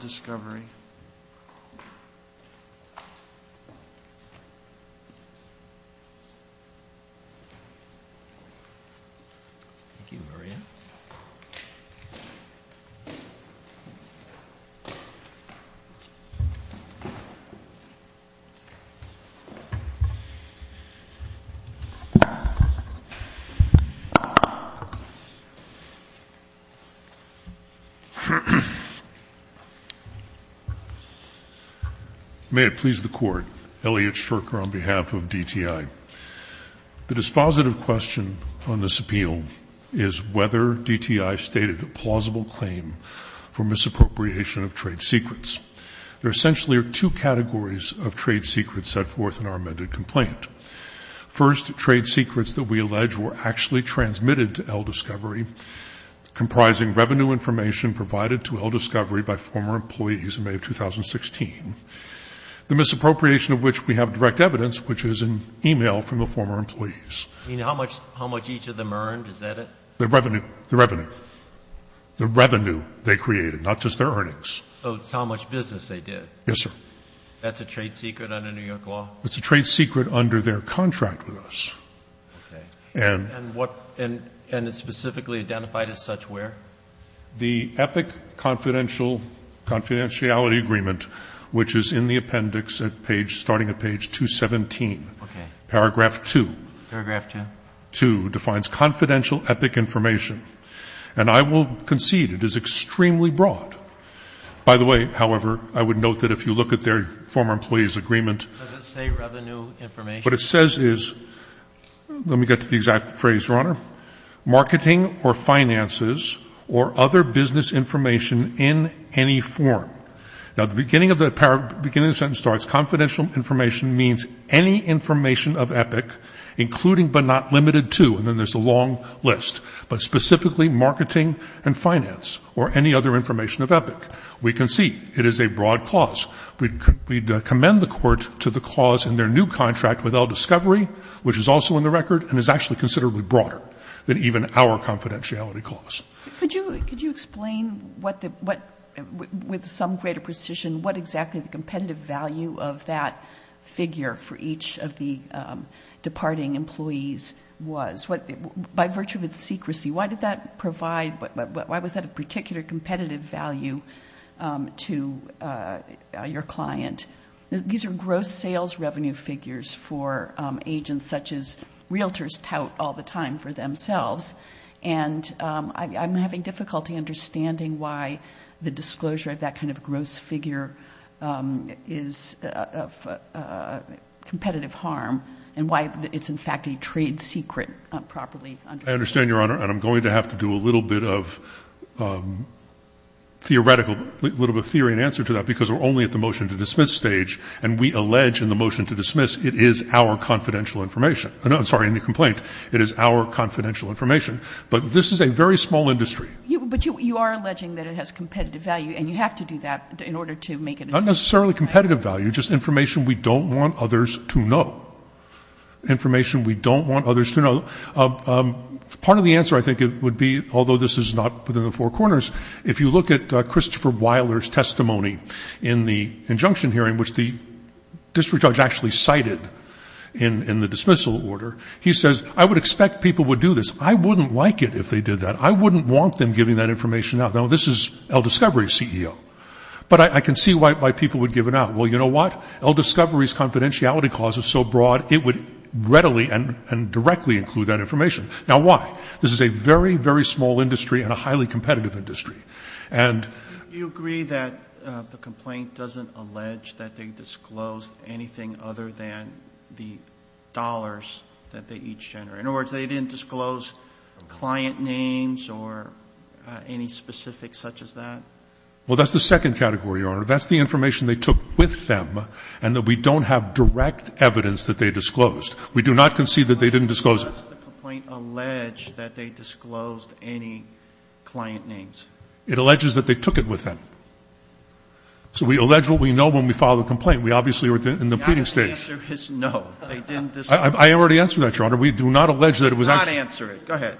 Discovery May it please the Court, Elliot Shurker on behalf of DTI. The dispositive question on this appeal is whether DTI stated a plausible claim for misappropriation of trade secrets. There essentially are two categories of trade secrets set forth in our amended complaint. First, trade secrets that we allege were actually transmitted to El Discovery, comprising revenue information provided to El Discovery by former employees in May of 2016, the misappropriation of which we have direct evidence, which is an e-mail from the former employees. I mean, how much each of them earned, is that it? The revenue. The revenue. The revenue they created, not just their earnings. So it's how much business they did. Yes, sir. That's a trade secret under New York law? It's a trade secret under their contract with us. Okay. And it's specifically identified as such where? The EPIC confidentiality agreement, which is in the appendix starting at page 217. Okay. Paragraph 2. Paragraph 2. 2 defines confidential EPIC information. And I will concede it is extremely broad. By the way, however, I would note that if you look at their former employees' agreement. Does it say revenue information? What it says is, let me get to the exact phrase, Your Honor, marketing or finances or other business information in any form. Now, the beginning of the sentence starts confidential information means any information of EPIC, including but not limited to, and then there's a long list, but specifically marketing and finance or any other information of EPIC. We concede it is a broad clause. We commend the court to the clause in their new contract with El Discovery, which is also in the record and is actually considerably broader than even our confidentiality clause. Could you explain what, with some greater precision, what exactly the competitive value of that figure for each of the departing employees was? By virtue of its secrecy, why did that provide, why was that a particular competitive value to your client? These are gross sales revenue figures for agents such as realtors tout all the time for themselves, and I'm having difficulty understanding why the disclosure of that kind of gross figure is of competitive harm and why it's, in fact, a trade secret properly understood. I understand, Your Honor, and I'm going to have to do a little bit of theoretical, a little bit of theory and answer to that because we're only at the motion to dismiss stage, and we allege in the motion to dismiss it is our confidential information. I'm sorry, in the complaint, it is our confidential information. But this is a very small industry. But you are alleging that it has competitive value, and you have to do that in order to make it? Not necessarily competitive value, just information we don't want others to know, information we don't want others to know. Part of the answer, I think, would be, although this is not within the four corners, if you look at Christopher Wyler's testimony in the injunction hearing, which the district judge actually cited in the dismissal order, he says, I would expect people would do this. I wouldn't like it if they did that. I wouldn't want them giving that information out. Now, this is El Discovery's CEO. But I can see why people would give it out. Well, you know what? El Discovery's confidentiality clause is so broad, it would readily and directly include that information. Now, why? This is a very, very small industry and a highly competitive industry. And you agree that the complaint doesn't allege that they disclosed anything other than the dollars that they each generate? In other words, they didn't disclose client names or any specifics such as that? Well, that's the second category, Your Honor. That's the information they took with them and that we don't have direct evidence that they disclosed. We do not concede that they didn't disclose it. But does the complaint allege that they disclosed any client names? It alleges that they took it with them. So we allege what we know when we file the complaint. We obviously were in the pleading stage. The answer is no. They didn't disclose. I already answered that, Your Honor. We do not allege that it was actually. Do not answer it. Go ahead.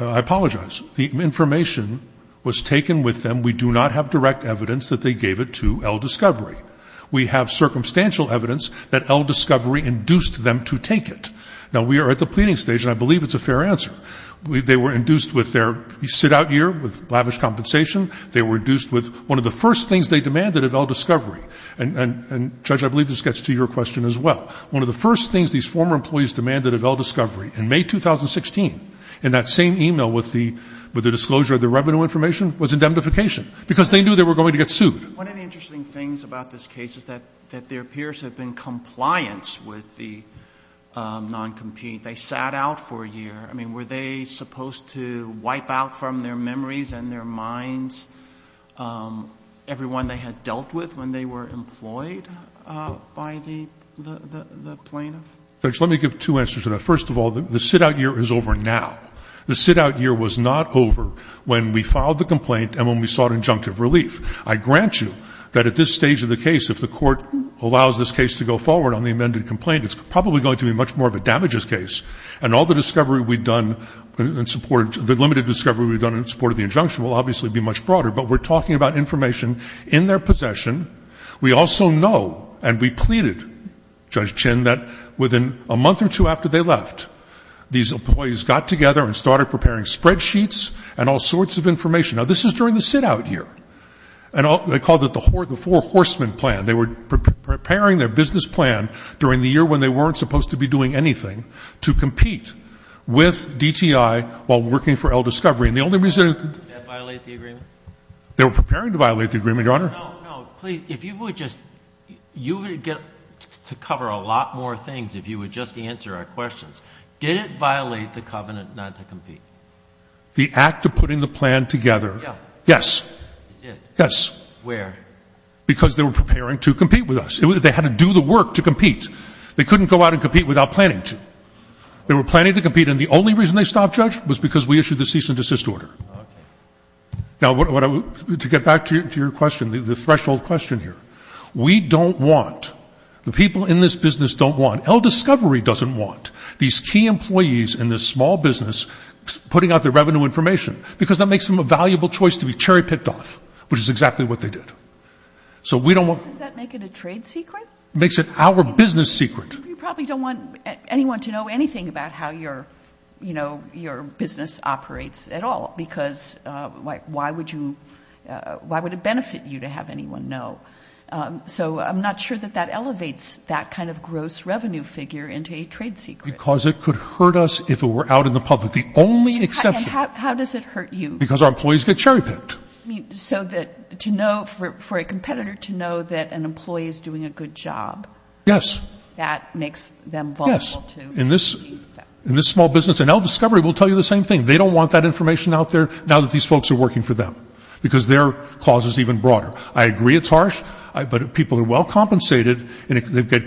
I apologize. The information was taken with them. And we do not have direct evidence that they gave it to Eldiscovery. We have circumstantial evidence that Eldiscovery induced them to take it. Now, we are at the pleading stage, and I believe it's a fair answer. They were induced with their sit-out year with lavish compensation. They were induced with one of the first things they demanded of Eldiscovery. And, Judge, I believe this gets to your question as well. One of the first things these former employees demanded of Eldiscovery in May 2016, in that same e-mail with the disclosure of the revenue information, was indemnification. Because they knew they were going to get sued. One of the interesting things about this case is that their peers have been compliant with the non-compete. They sat out for a year. I mean, were they supposed to wipe out from their memories and their minds everyone they had dealt with when they were employed by the plaintiff? Judge, let me give two answers to that. First of all, the sit-out year is over now. The sit-out year was not over when we filed the complaint and when we sought injunctive relief. I grant you that at this stage of the case, if the Court allows this case to go forward on the amended complaint, it's probably going to be much more of a damages case. And all the discovery we've done in support of the injunction will obviously be much broader. But we're talking about information in their possession. We also know, and we pleaded, Judge Chin, that within a month or two after they left, these employees got together and started preparing spreadsheets and all sorts of information. Now, this is during the sit-out year. And they called it the four horsemen plan. They were preparing their business plan during the year when they weren't supposed to be doing anything to compete with DTI while working for Eldiscovery. And the only reason they could — Did that violate the agreement? They were preparing to violate the agreement, Your Honor. No, no. Please, if you would just — you would get to cover a lot more things if you would just answer our questions. Did it violate the covenant not to compete? The act of putting the plan together. Yeah. Yes. It did? Yes. Where? Because they were preparing to compete with us. They had to do the work to compete. They couldn't go out and compete without planning to. They were planning to compete. And the only reason they stopped, Judge, was because we issued the cease and desist order. Okay. Now, to get back to your question, the threshold question here. We don't want, the people in this business don't want, Eldiscovery doesn't want, these key employees in this small business putting out their revenue information because that makes them a valuable choice to be cherry picked off, which is exactly what they did. So we don't want — Does that make it a trade secret? It makes it our business secret. You probably don't want anyone to know anything about how your business operates at all because why would it benefit you to have anyone know? So I'm not sure that that elevates that kind of gross revenue figure into a trade secret. Because it could hurt us if it were out in the public. The only exception — And how does it hurt you? Because our employees get cherry picked. So that to know, for a competitor to know that an employee is doing a good job. Yes. That makes them vulnerable to — Yes. In this small business. And Eldiscovery will tell you the same thing. They don't want that information out there now that these folks are working for them. Because their cause is even broader. I agree it's harsh, but people are well compensated, and they've got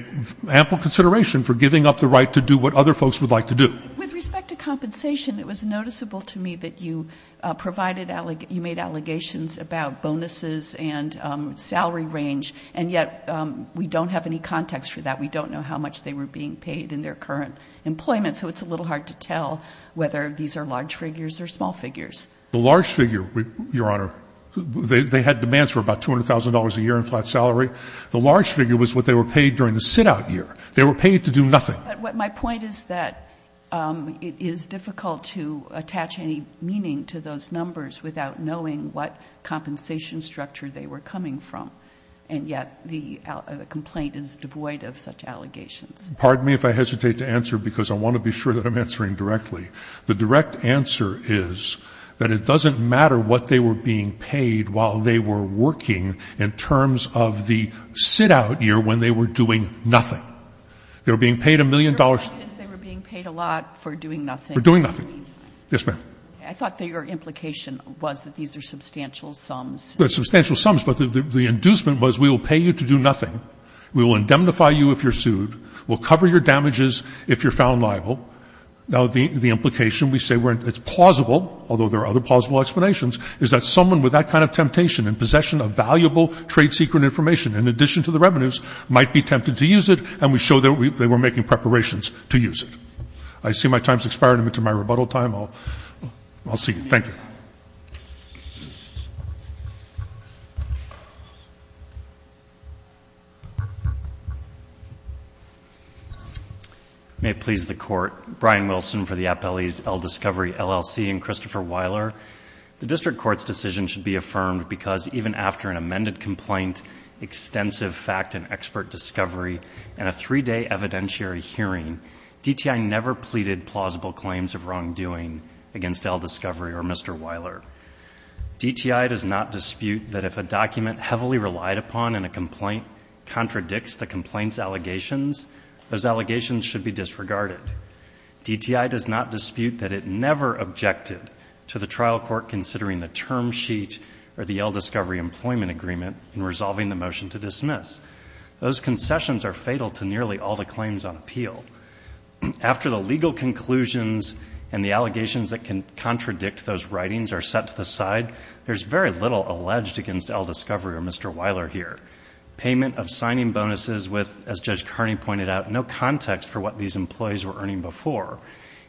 ample consideration for giving up the right to do what other folks would like to do. With respect to compensation, it was noticeable to me that you provided — you made allegations about bonuses and salary range, and yet we don't have any context for that. We don't know how much they were being paid in their current employment, so it's a little hard to tell whether these are large figures or small figures. The large figure, Your Honor, they had demands for about $200,000 a year in flat salary. The large figure was what they were paid during the sit-out year. They were paid to do nothing. But my point is that it is difficult to attach any meaning to those numbers without knowing what compensation structure they were coming from. And yet the complaint is devoid of such allegations. Pardon me if I hesitate to answer, because I want to be sure that I'm answering directly. The direct answer is that it doesn't matter what they were being paid while they were working in terms of the sit-out year when they were doing nothing. They were being paid a million dollars. Your point is they were being paid a lot for doing nothing. For doing nothing. Yes, ma'am. I thought that your implication was that these are substantial sums. They're substantial sums, but the inducement was we will pay you to do nothing, we will indemnify you if you're sued, we'll cover your damages if you're found liable. Now, the implication, we say it's plausible, although there are other plausible explanations, is that someone with that kind of temptation and possession of valuable trade secret information in addition to the revenues might be tempted to use it, and we show that they were making preparations to use it. I see my time has expired. I'm into my rebuttal time. I'll see you. Thank you. Thank you. May it please the Court. Brian Wilson for the Appellee's Ell Discovery, LLC, and Christopher Weiler. The District Court's decision should be affirmed because even after an amended complaint, extensive fact and expert discovery, and a three-day evidentiary hearing, DTI never pleaded plausible claims of wrongdoing against Ell Discovery or Mr. Weiler. DTI does not dispute that if a document heavily relied upon in a complaint contradicts the complaint's allegations, those allegations should be disregarded. DTI does not dispute that it never objected to the trial court considering the term sheet or the Ell Discovery employment agreement in resolving the motion to dismiss. Those concessions are fatal to nearly all the claims on appeal. After the legal conclusions and the allegations that can contradict those writings are set to the side, there's very little alleged against Ell Discovery or Mr. Weiler here. Payment of signing bonuses with, as Judge Carney pointed out, no context for what these employees were earning before.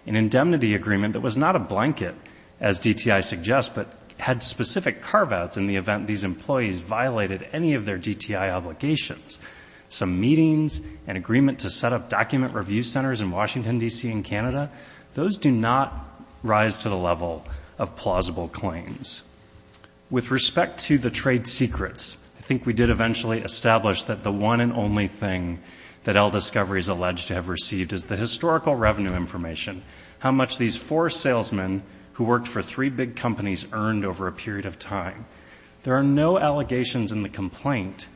An indemnity agreement that was not a blanket, as DTI suggests, but had specific carve-outs in the event these employees violated any of their DTI obligations. Some meetings, an agreement to set up document review centers in Washington, D.C. and Canada, those do not rise to the level of plausible claims. With respect to the trade secrets, I think we did eventually establish that the one and only thing that Ell Discovery is alleged to have received is the historical revenue information, how much these four salesmen who worked for three big companies earned over a period of time. There are no allegations in the complaint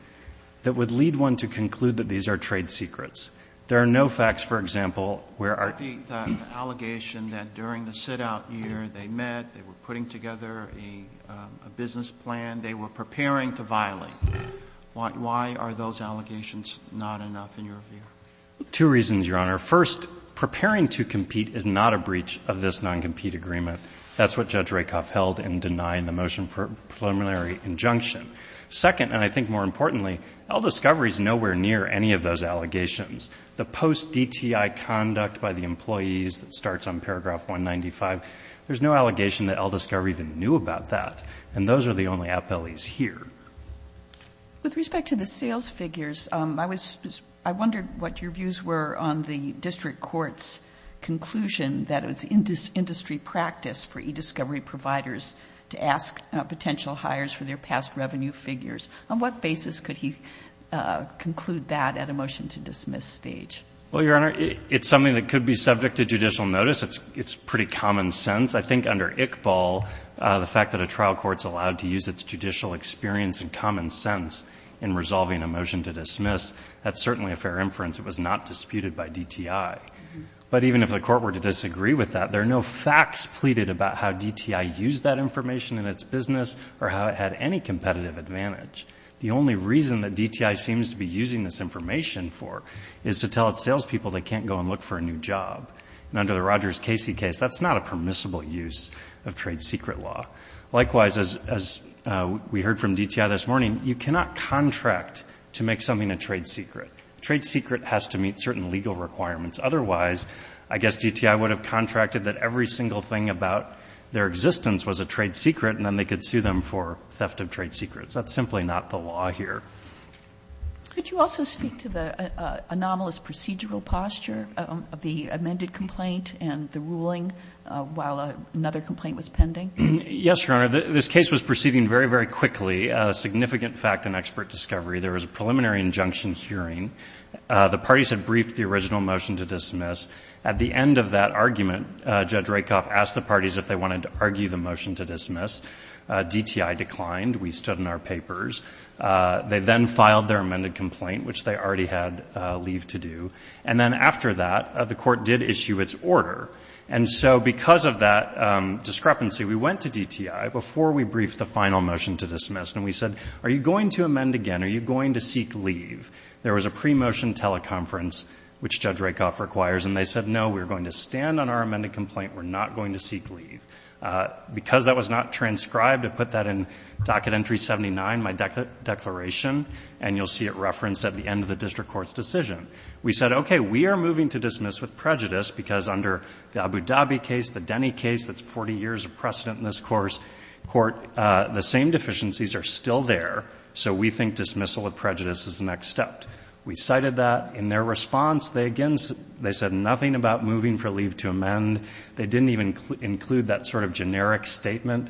that would lead one to conclude that these are trade secrets. There are no facts, for example, where our ---- Roberts. The allegation that during the sit-out year they met, they were putting together a business plan, they were preparing to violate. Two reasons, Your Honor. First, preparing to compete is not a breach of this non-compete agreement. That's what Judge Rakoff held in denying the motion for preliminary injunction. Second, and I think more importantly, Ell Discovery is nowhere near any of those allegations. The post-DTI conduct by the employees that starts on paragraph 195, there's no allegation that Ell Discovery even knew about that, and those are the only appellees here. With respect to the sales figures, I wondered what your views were on the district court's conclusion that it was industry practice for e-discovery providers to ask potential hires for their past revenue figures. On what basis could he conclude that at a motion-to-dismiss stage? Well, Your Honor, it's something that could be subject to judicial notice. It's pretty common sense. I think under ICBAL, the fact that a trial court's allowed to use its judicial experience and common sense in resolving a motion-to-dismiss, that's certainly a fair inference. It was not disputed by DTI. But even if the court were to disagree with that, there are no facts pleaded about how DTI used that information in its business or how it had any competitive advantage. The only reason that DTI seems to be using this information for is to tell its salespeople they can't go and look for a new job. And under the Rogers-Casey case, that's not a permissible use of trade secret law. Likewise, as we heard from DTI this morning, you cannot contract to make something a trade secret. A trade secret has to meet certain legal requirements. Otherwise, I guess DTI would have contracted that every single thing about their existence was a trade secret, and then they could sue them for theft of trade secrets. That's simply not the law here. Could you also speak to the anomalous procedural posture of the amended complaint and the ruling while another complaint was pending? Yes, Your Honor. This case was proceeding very, very quickly. Significant fact and expert discovery. There was a preliminary injunction hearing. The parties had briefed the original motion-to-dismiss. At the end of that argument, Judge Rakoff asked the parties if they wanted to argue the motion-to-dismiss. DTI declined. We stood in our papers. They then filed their amended complaint, which they already had leave to do. And then after that, the Court did issue its order. And so because of that discrepancy, we went to DTI before we briefed the final motion-to-dismiss, and we said, are you going to amend again? Are you going to seek leave? There was a pre-motion teleconference, which Judge Rakoff requires, and they said, no, we're going to stand on our amended complaint. We're not going to seek leave. Because that was not transcribed, I put that in Docket Entry 79, my declaration, and you'll see it referenced at the end of the district court's decision. We said, okay, we are moving to dismiss with prejudice because under the Abu Dhabi case, the Denny case that's 40 years of precedent in this court, the same deficiencies are still there, so we think dismissal with prejudice is the next step. We cited that. In their response, they again said nothing about moving for leave to amend. They didn't even include that sort of generic statement,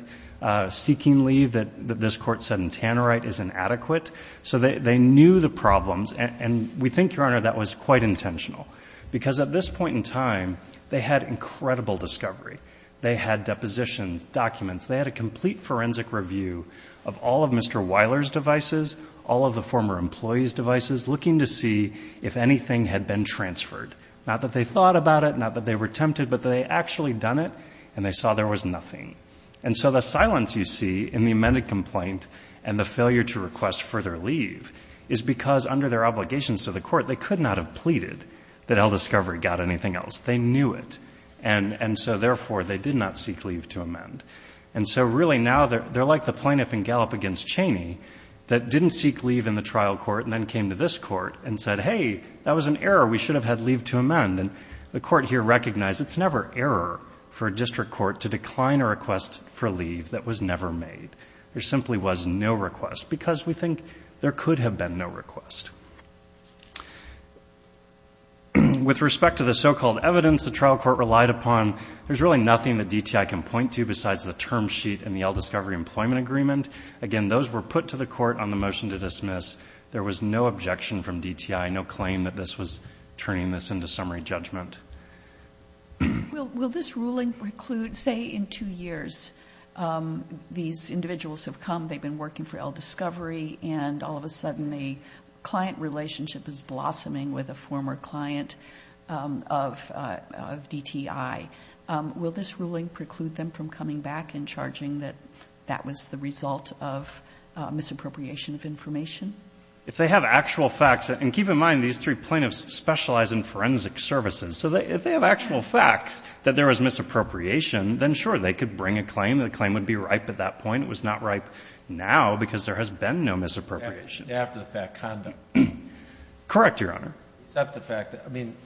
seeking leave, that this court said in Tannerite is inadequate. So they knew the problems, and we think, Your Honor, that was quite intentional because at this point in time, they had incredible discovery. They had depositions, documents. They had a complete forensic review of all of Mr. Weiler's devices, all of the former employees' devices, looking to see if anything had been transferred. Not that they thought about it, not that they were tempted, but they had actually done it, and they saw there was nothing. And so the silence you see in the amended complaint and the failure to request further leave is because under their obligations to the court, they could not have pleaded that El Discovery got anything else. They knew it, and so therefore they did not seek leave to amend. And so really now they're like the plaintiff in Gallup against Cheney that didn't seek leave in the trial court and then came to this court and said, Hey, that was an error. We should have had leave to amend. And the court here recognized it's never error for a district court to decline a request for leave that was never made. There simply was no request because we think there could have been no request. With respect to the so-called evidence the trial court relied upon, there's really nothing that DTI can point to besides the term sheet and the El Discovery employment agreement. Again, those were put to the court on the motion to dismiss. There was no objection from DTI, no claim that this was turning this into summary judgment. Will this ruling preclude, say, in two years, these individuals have come, they've been working for El Discovery, and all of a sudden a client relationship is blossoming with a former client of DTI. Will this ruling preclude them from coming back and charging that that was the result of misappropriation of information? If they have actual facts, and keep in mind, these three plaintiffs specialize in forensic services, so if they have actual facts that there was misappropriation, then sure, they could bring a claim. The claim would be ripe at that point. It was not ripe now because there has been no misappropriation. It's after-the-fact conduct. Correct, Your Honor. It's after-the-fact. I mean,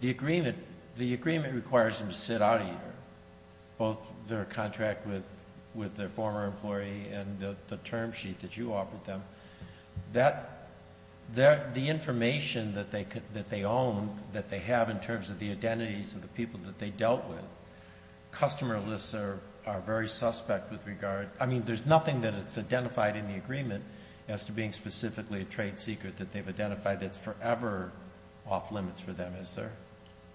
the agreement requires them to sit out a year, both their contract with their former employee and the term sheet that you offered them. The information that they own, that they have in terms of the identities of the people that they dealt with, customer lists are very suspect with regard. I mean, there's nothing that is identified in the agreement as to being specifically a trade secret that they've identified that's forever off limits for them, is there?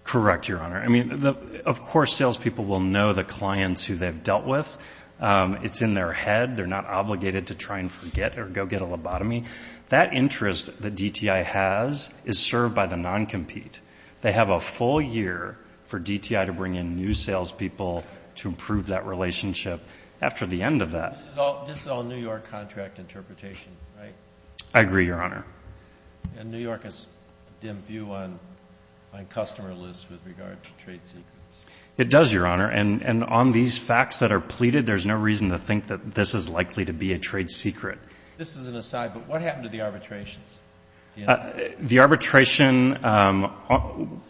Correct, Your Honor. I mean, of course salespeople will know the clients who they've dealt with. It's in their head. They're not obligated to try and forget or go get a lobotomy. That interest that DTI has is served by the non-compete. They have a full year for DTI to bring in new salespeople to improve that relationship. After the end of that. This is all New York contract interpretation, right? I agree, Your Honor. And New York has dim view on customer lists with regard to trade secrets. It does, Your Honor, and on these facts that are pleaded, there's no reason to think that this is likely to be a trade secret. This is an aside, but what happened to the arbitrations? The arbitration,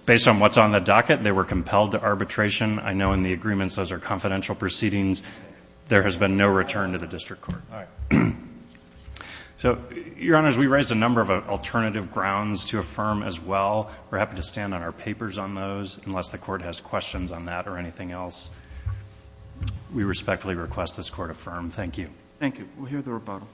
based on what's on the docket, they were compelled to arbitration. I know in the agreements, those are confidential proceedings. There has been no return to the district court. All right. So, Your Honors, we raised a number of alternative grounds to affirm as well. We're happy to stand on our papers on those, unless the Court has questions on that or anything else. We respectfully request this Court affirm. Thank you. Thank you. We'll hear the rebuttal.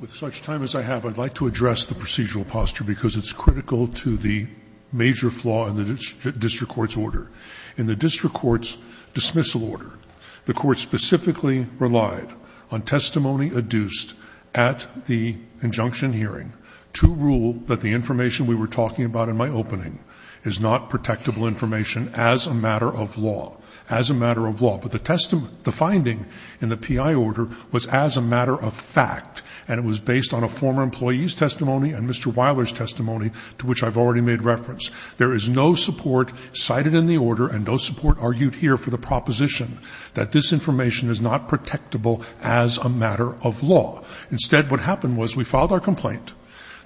With such time as I have, I'd like to address the procedural posture because it's critical to the major brief law in the district court's order. In the district court's dismissal order, the court specifically relied on testimony adduced at the injunction hearing to rule that the information we were talking about in my opening is not protectable information as a matter of law, as a matter of law. But the finding in the PI order was as a matter of fact, and it was based on a former employee's testimony and Mr. Wyler's testimony, to which I've already made reference. There is no support cited in the order and no support argued here for the proposition that this information is not protectable as a matter of law. Instead, what happened was we filed our complaint.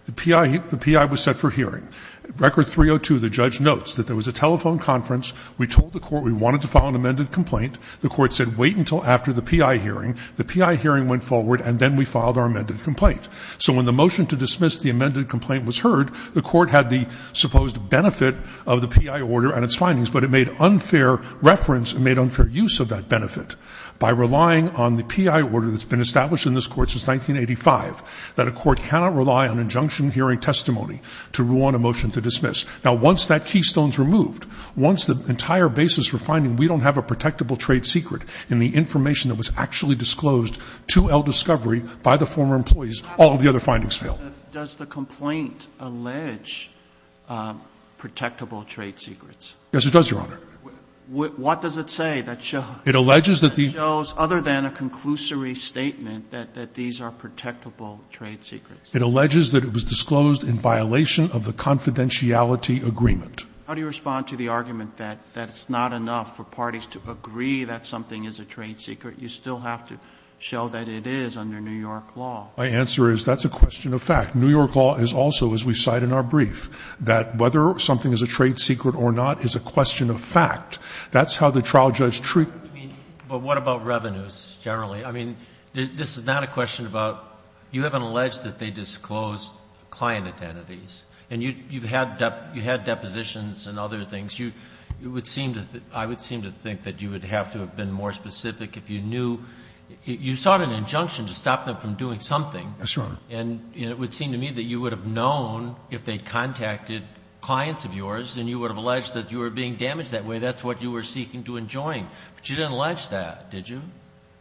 The PI was set for hearing. Record 302, the judge notes that there was a telephone conference. We told the court we wanted to file an amended complaint. The court said, wait until after the PI hearing. The PI hearing went forward, and then we filed our amended complaint. So when the motion to dismiss the amended complaint was heard, the court had the supposed benefit of the PI order and its findings, but it made unfair reference and made unfair use of that benefit by relying on the PI order that's been established in this court since 1985, that a court cannot rely on injunction hearing testimony to rule on a motion to dismiss. Now, once that keystone's removed, once the entire basis for finding we don't have a protectable trade secret in the information that was actually disclosed to El Discovery by the former employees, all the other findings fail. Does the complaint allege protectable trade secrets? Yes, it does, Your Honor. What does it say that shows other than a conclusory statement that these are protectable trade secrets? It alleges that it was disclosed in violation of the confidentiality agreement. How do you respond to the argument that it's not enough for parties to agree that something is a trade secret? You still have to show that it is under New York law. My answer is that's a question of fact. New York law is also, as we cite in our brief, that whether something is a trade secret or not is a question of fact. That's how the trial judge treats it. But what about revenues generally? I mean, this is not a question about you haven't alleged that they disclosed client identities, and you've had depositions and other things. You would seem to think, I would seem to think that you would have to have been more specific if you knew. You sought an injunction to stop them from doing something. Yes, Your Honor. And it would seem to me that you would have known if they'd contacted clients of yours, and you would have alleged that you were being damaged that way. That's what you were seeking to enjoin. But you didn't allege that, did you?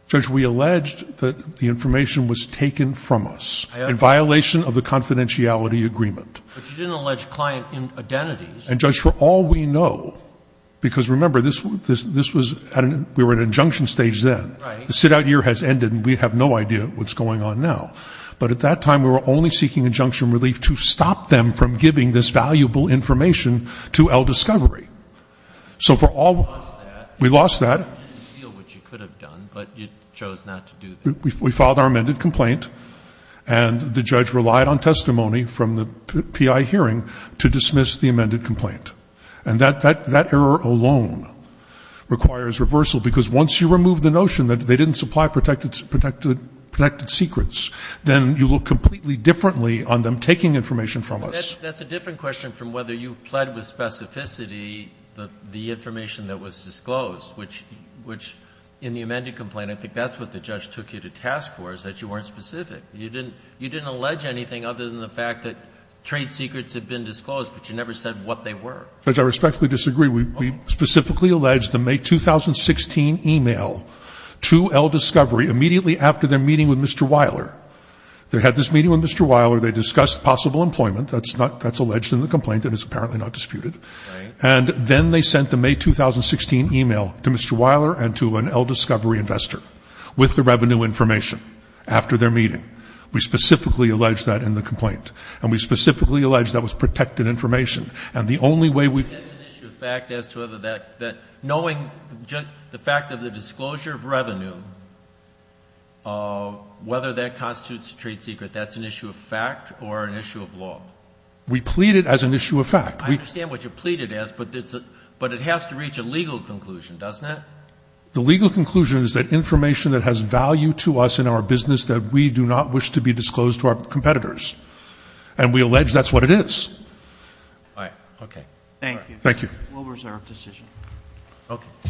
Judge, we alleged that the information was taken from us in violation of the confidentiality agreement. But you didn't allege client identities. And, Judge, for all we know, because remember, this was at an – we were at an injunction stage then. Right. The sit-out year has ended, and we have no idea what's going on now. But at that time, we were only seeking injunction relief to stop them from giving this valuable information to El Discovery. So for all – You lost that. We lost that. You didn't feel what you could have done, but you chose not to do that. We filed our amended complaint, and the judge relied on testimony from the PI hearing to dismiss the amended complaint. And that error alone requires reversal. Because once you remove the notion that they didn't supply protected secrets, then you look completely differently on them taking information from us. That's a different question from whether you pled with specificity the information that was disclosed, which in the amended complaint, I think that's what the judge took you to task for, is that you weren't specific. You didn't allege anything other than the fact that trade secrets had been disclosed, but you never said what they were. Judge, I respectfully disagree. We specifically alleged the May 2016 email to El Discovery immediately after their meeting with Mr. Weiler. They had this meeting with Mr. Weiler. They discussed possible employment. That's not – that's alleged in the complaint, and it's apparently not disputed. Right. And then they sent the May 2016 email to Mr. Weiler and to an El Discovery investor with the revenue information after their meeting. We specifically alleged that in the complaint. And we specifically alleged that was protected information. And the only way we – That's an issue of fact as to whether that – knowing just the fact of the disclosure of revenue, whether that constitutes a trade secret, that's an issue of fact or an issue of law? We plead it as an issue of fact. I understand what you plead it as, but it has to reach a legal conclusion, doesn't it? The legal conclusion is that information that has value to us in our business, that we do not wish to be disclosed to our competitors. And we allege that's what it is. All right. Okay. Thank you. Thank you. We'll reserve decision. Okay.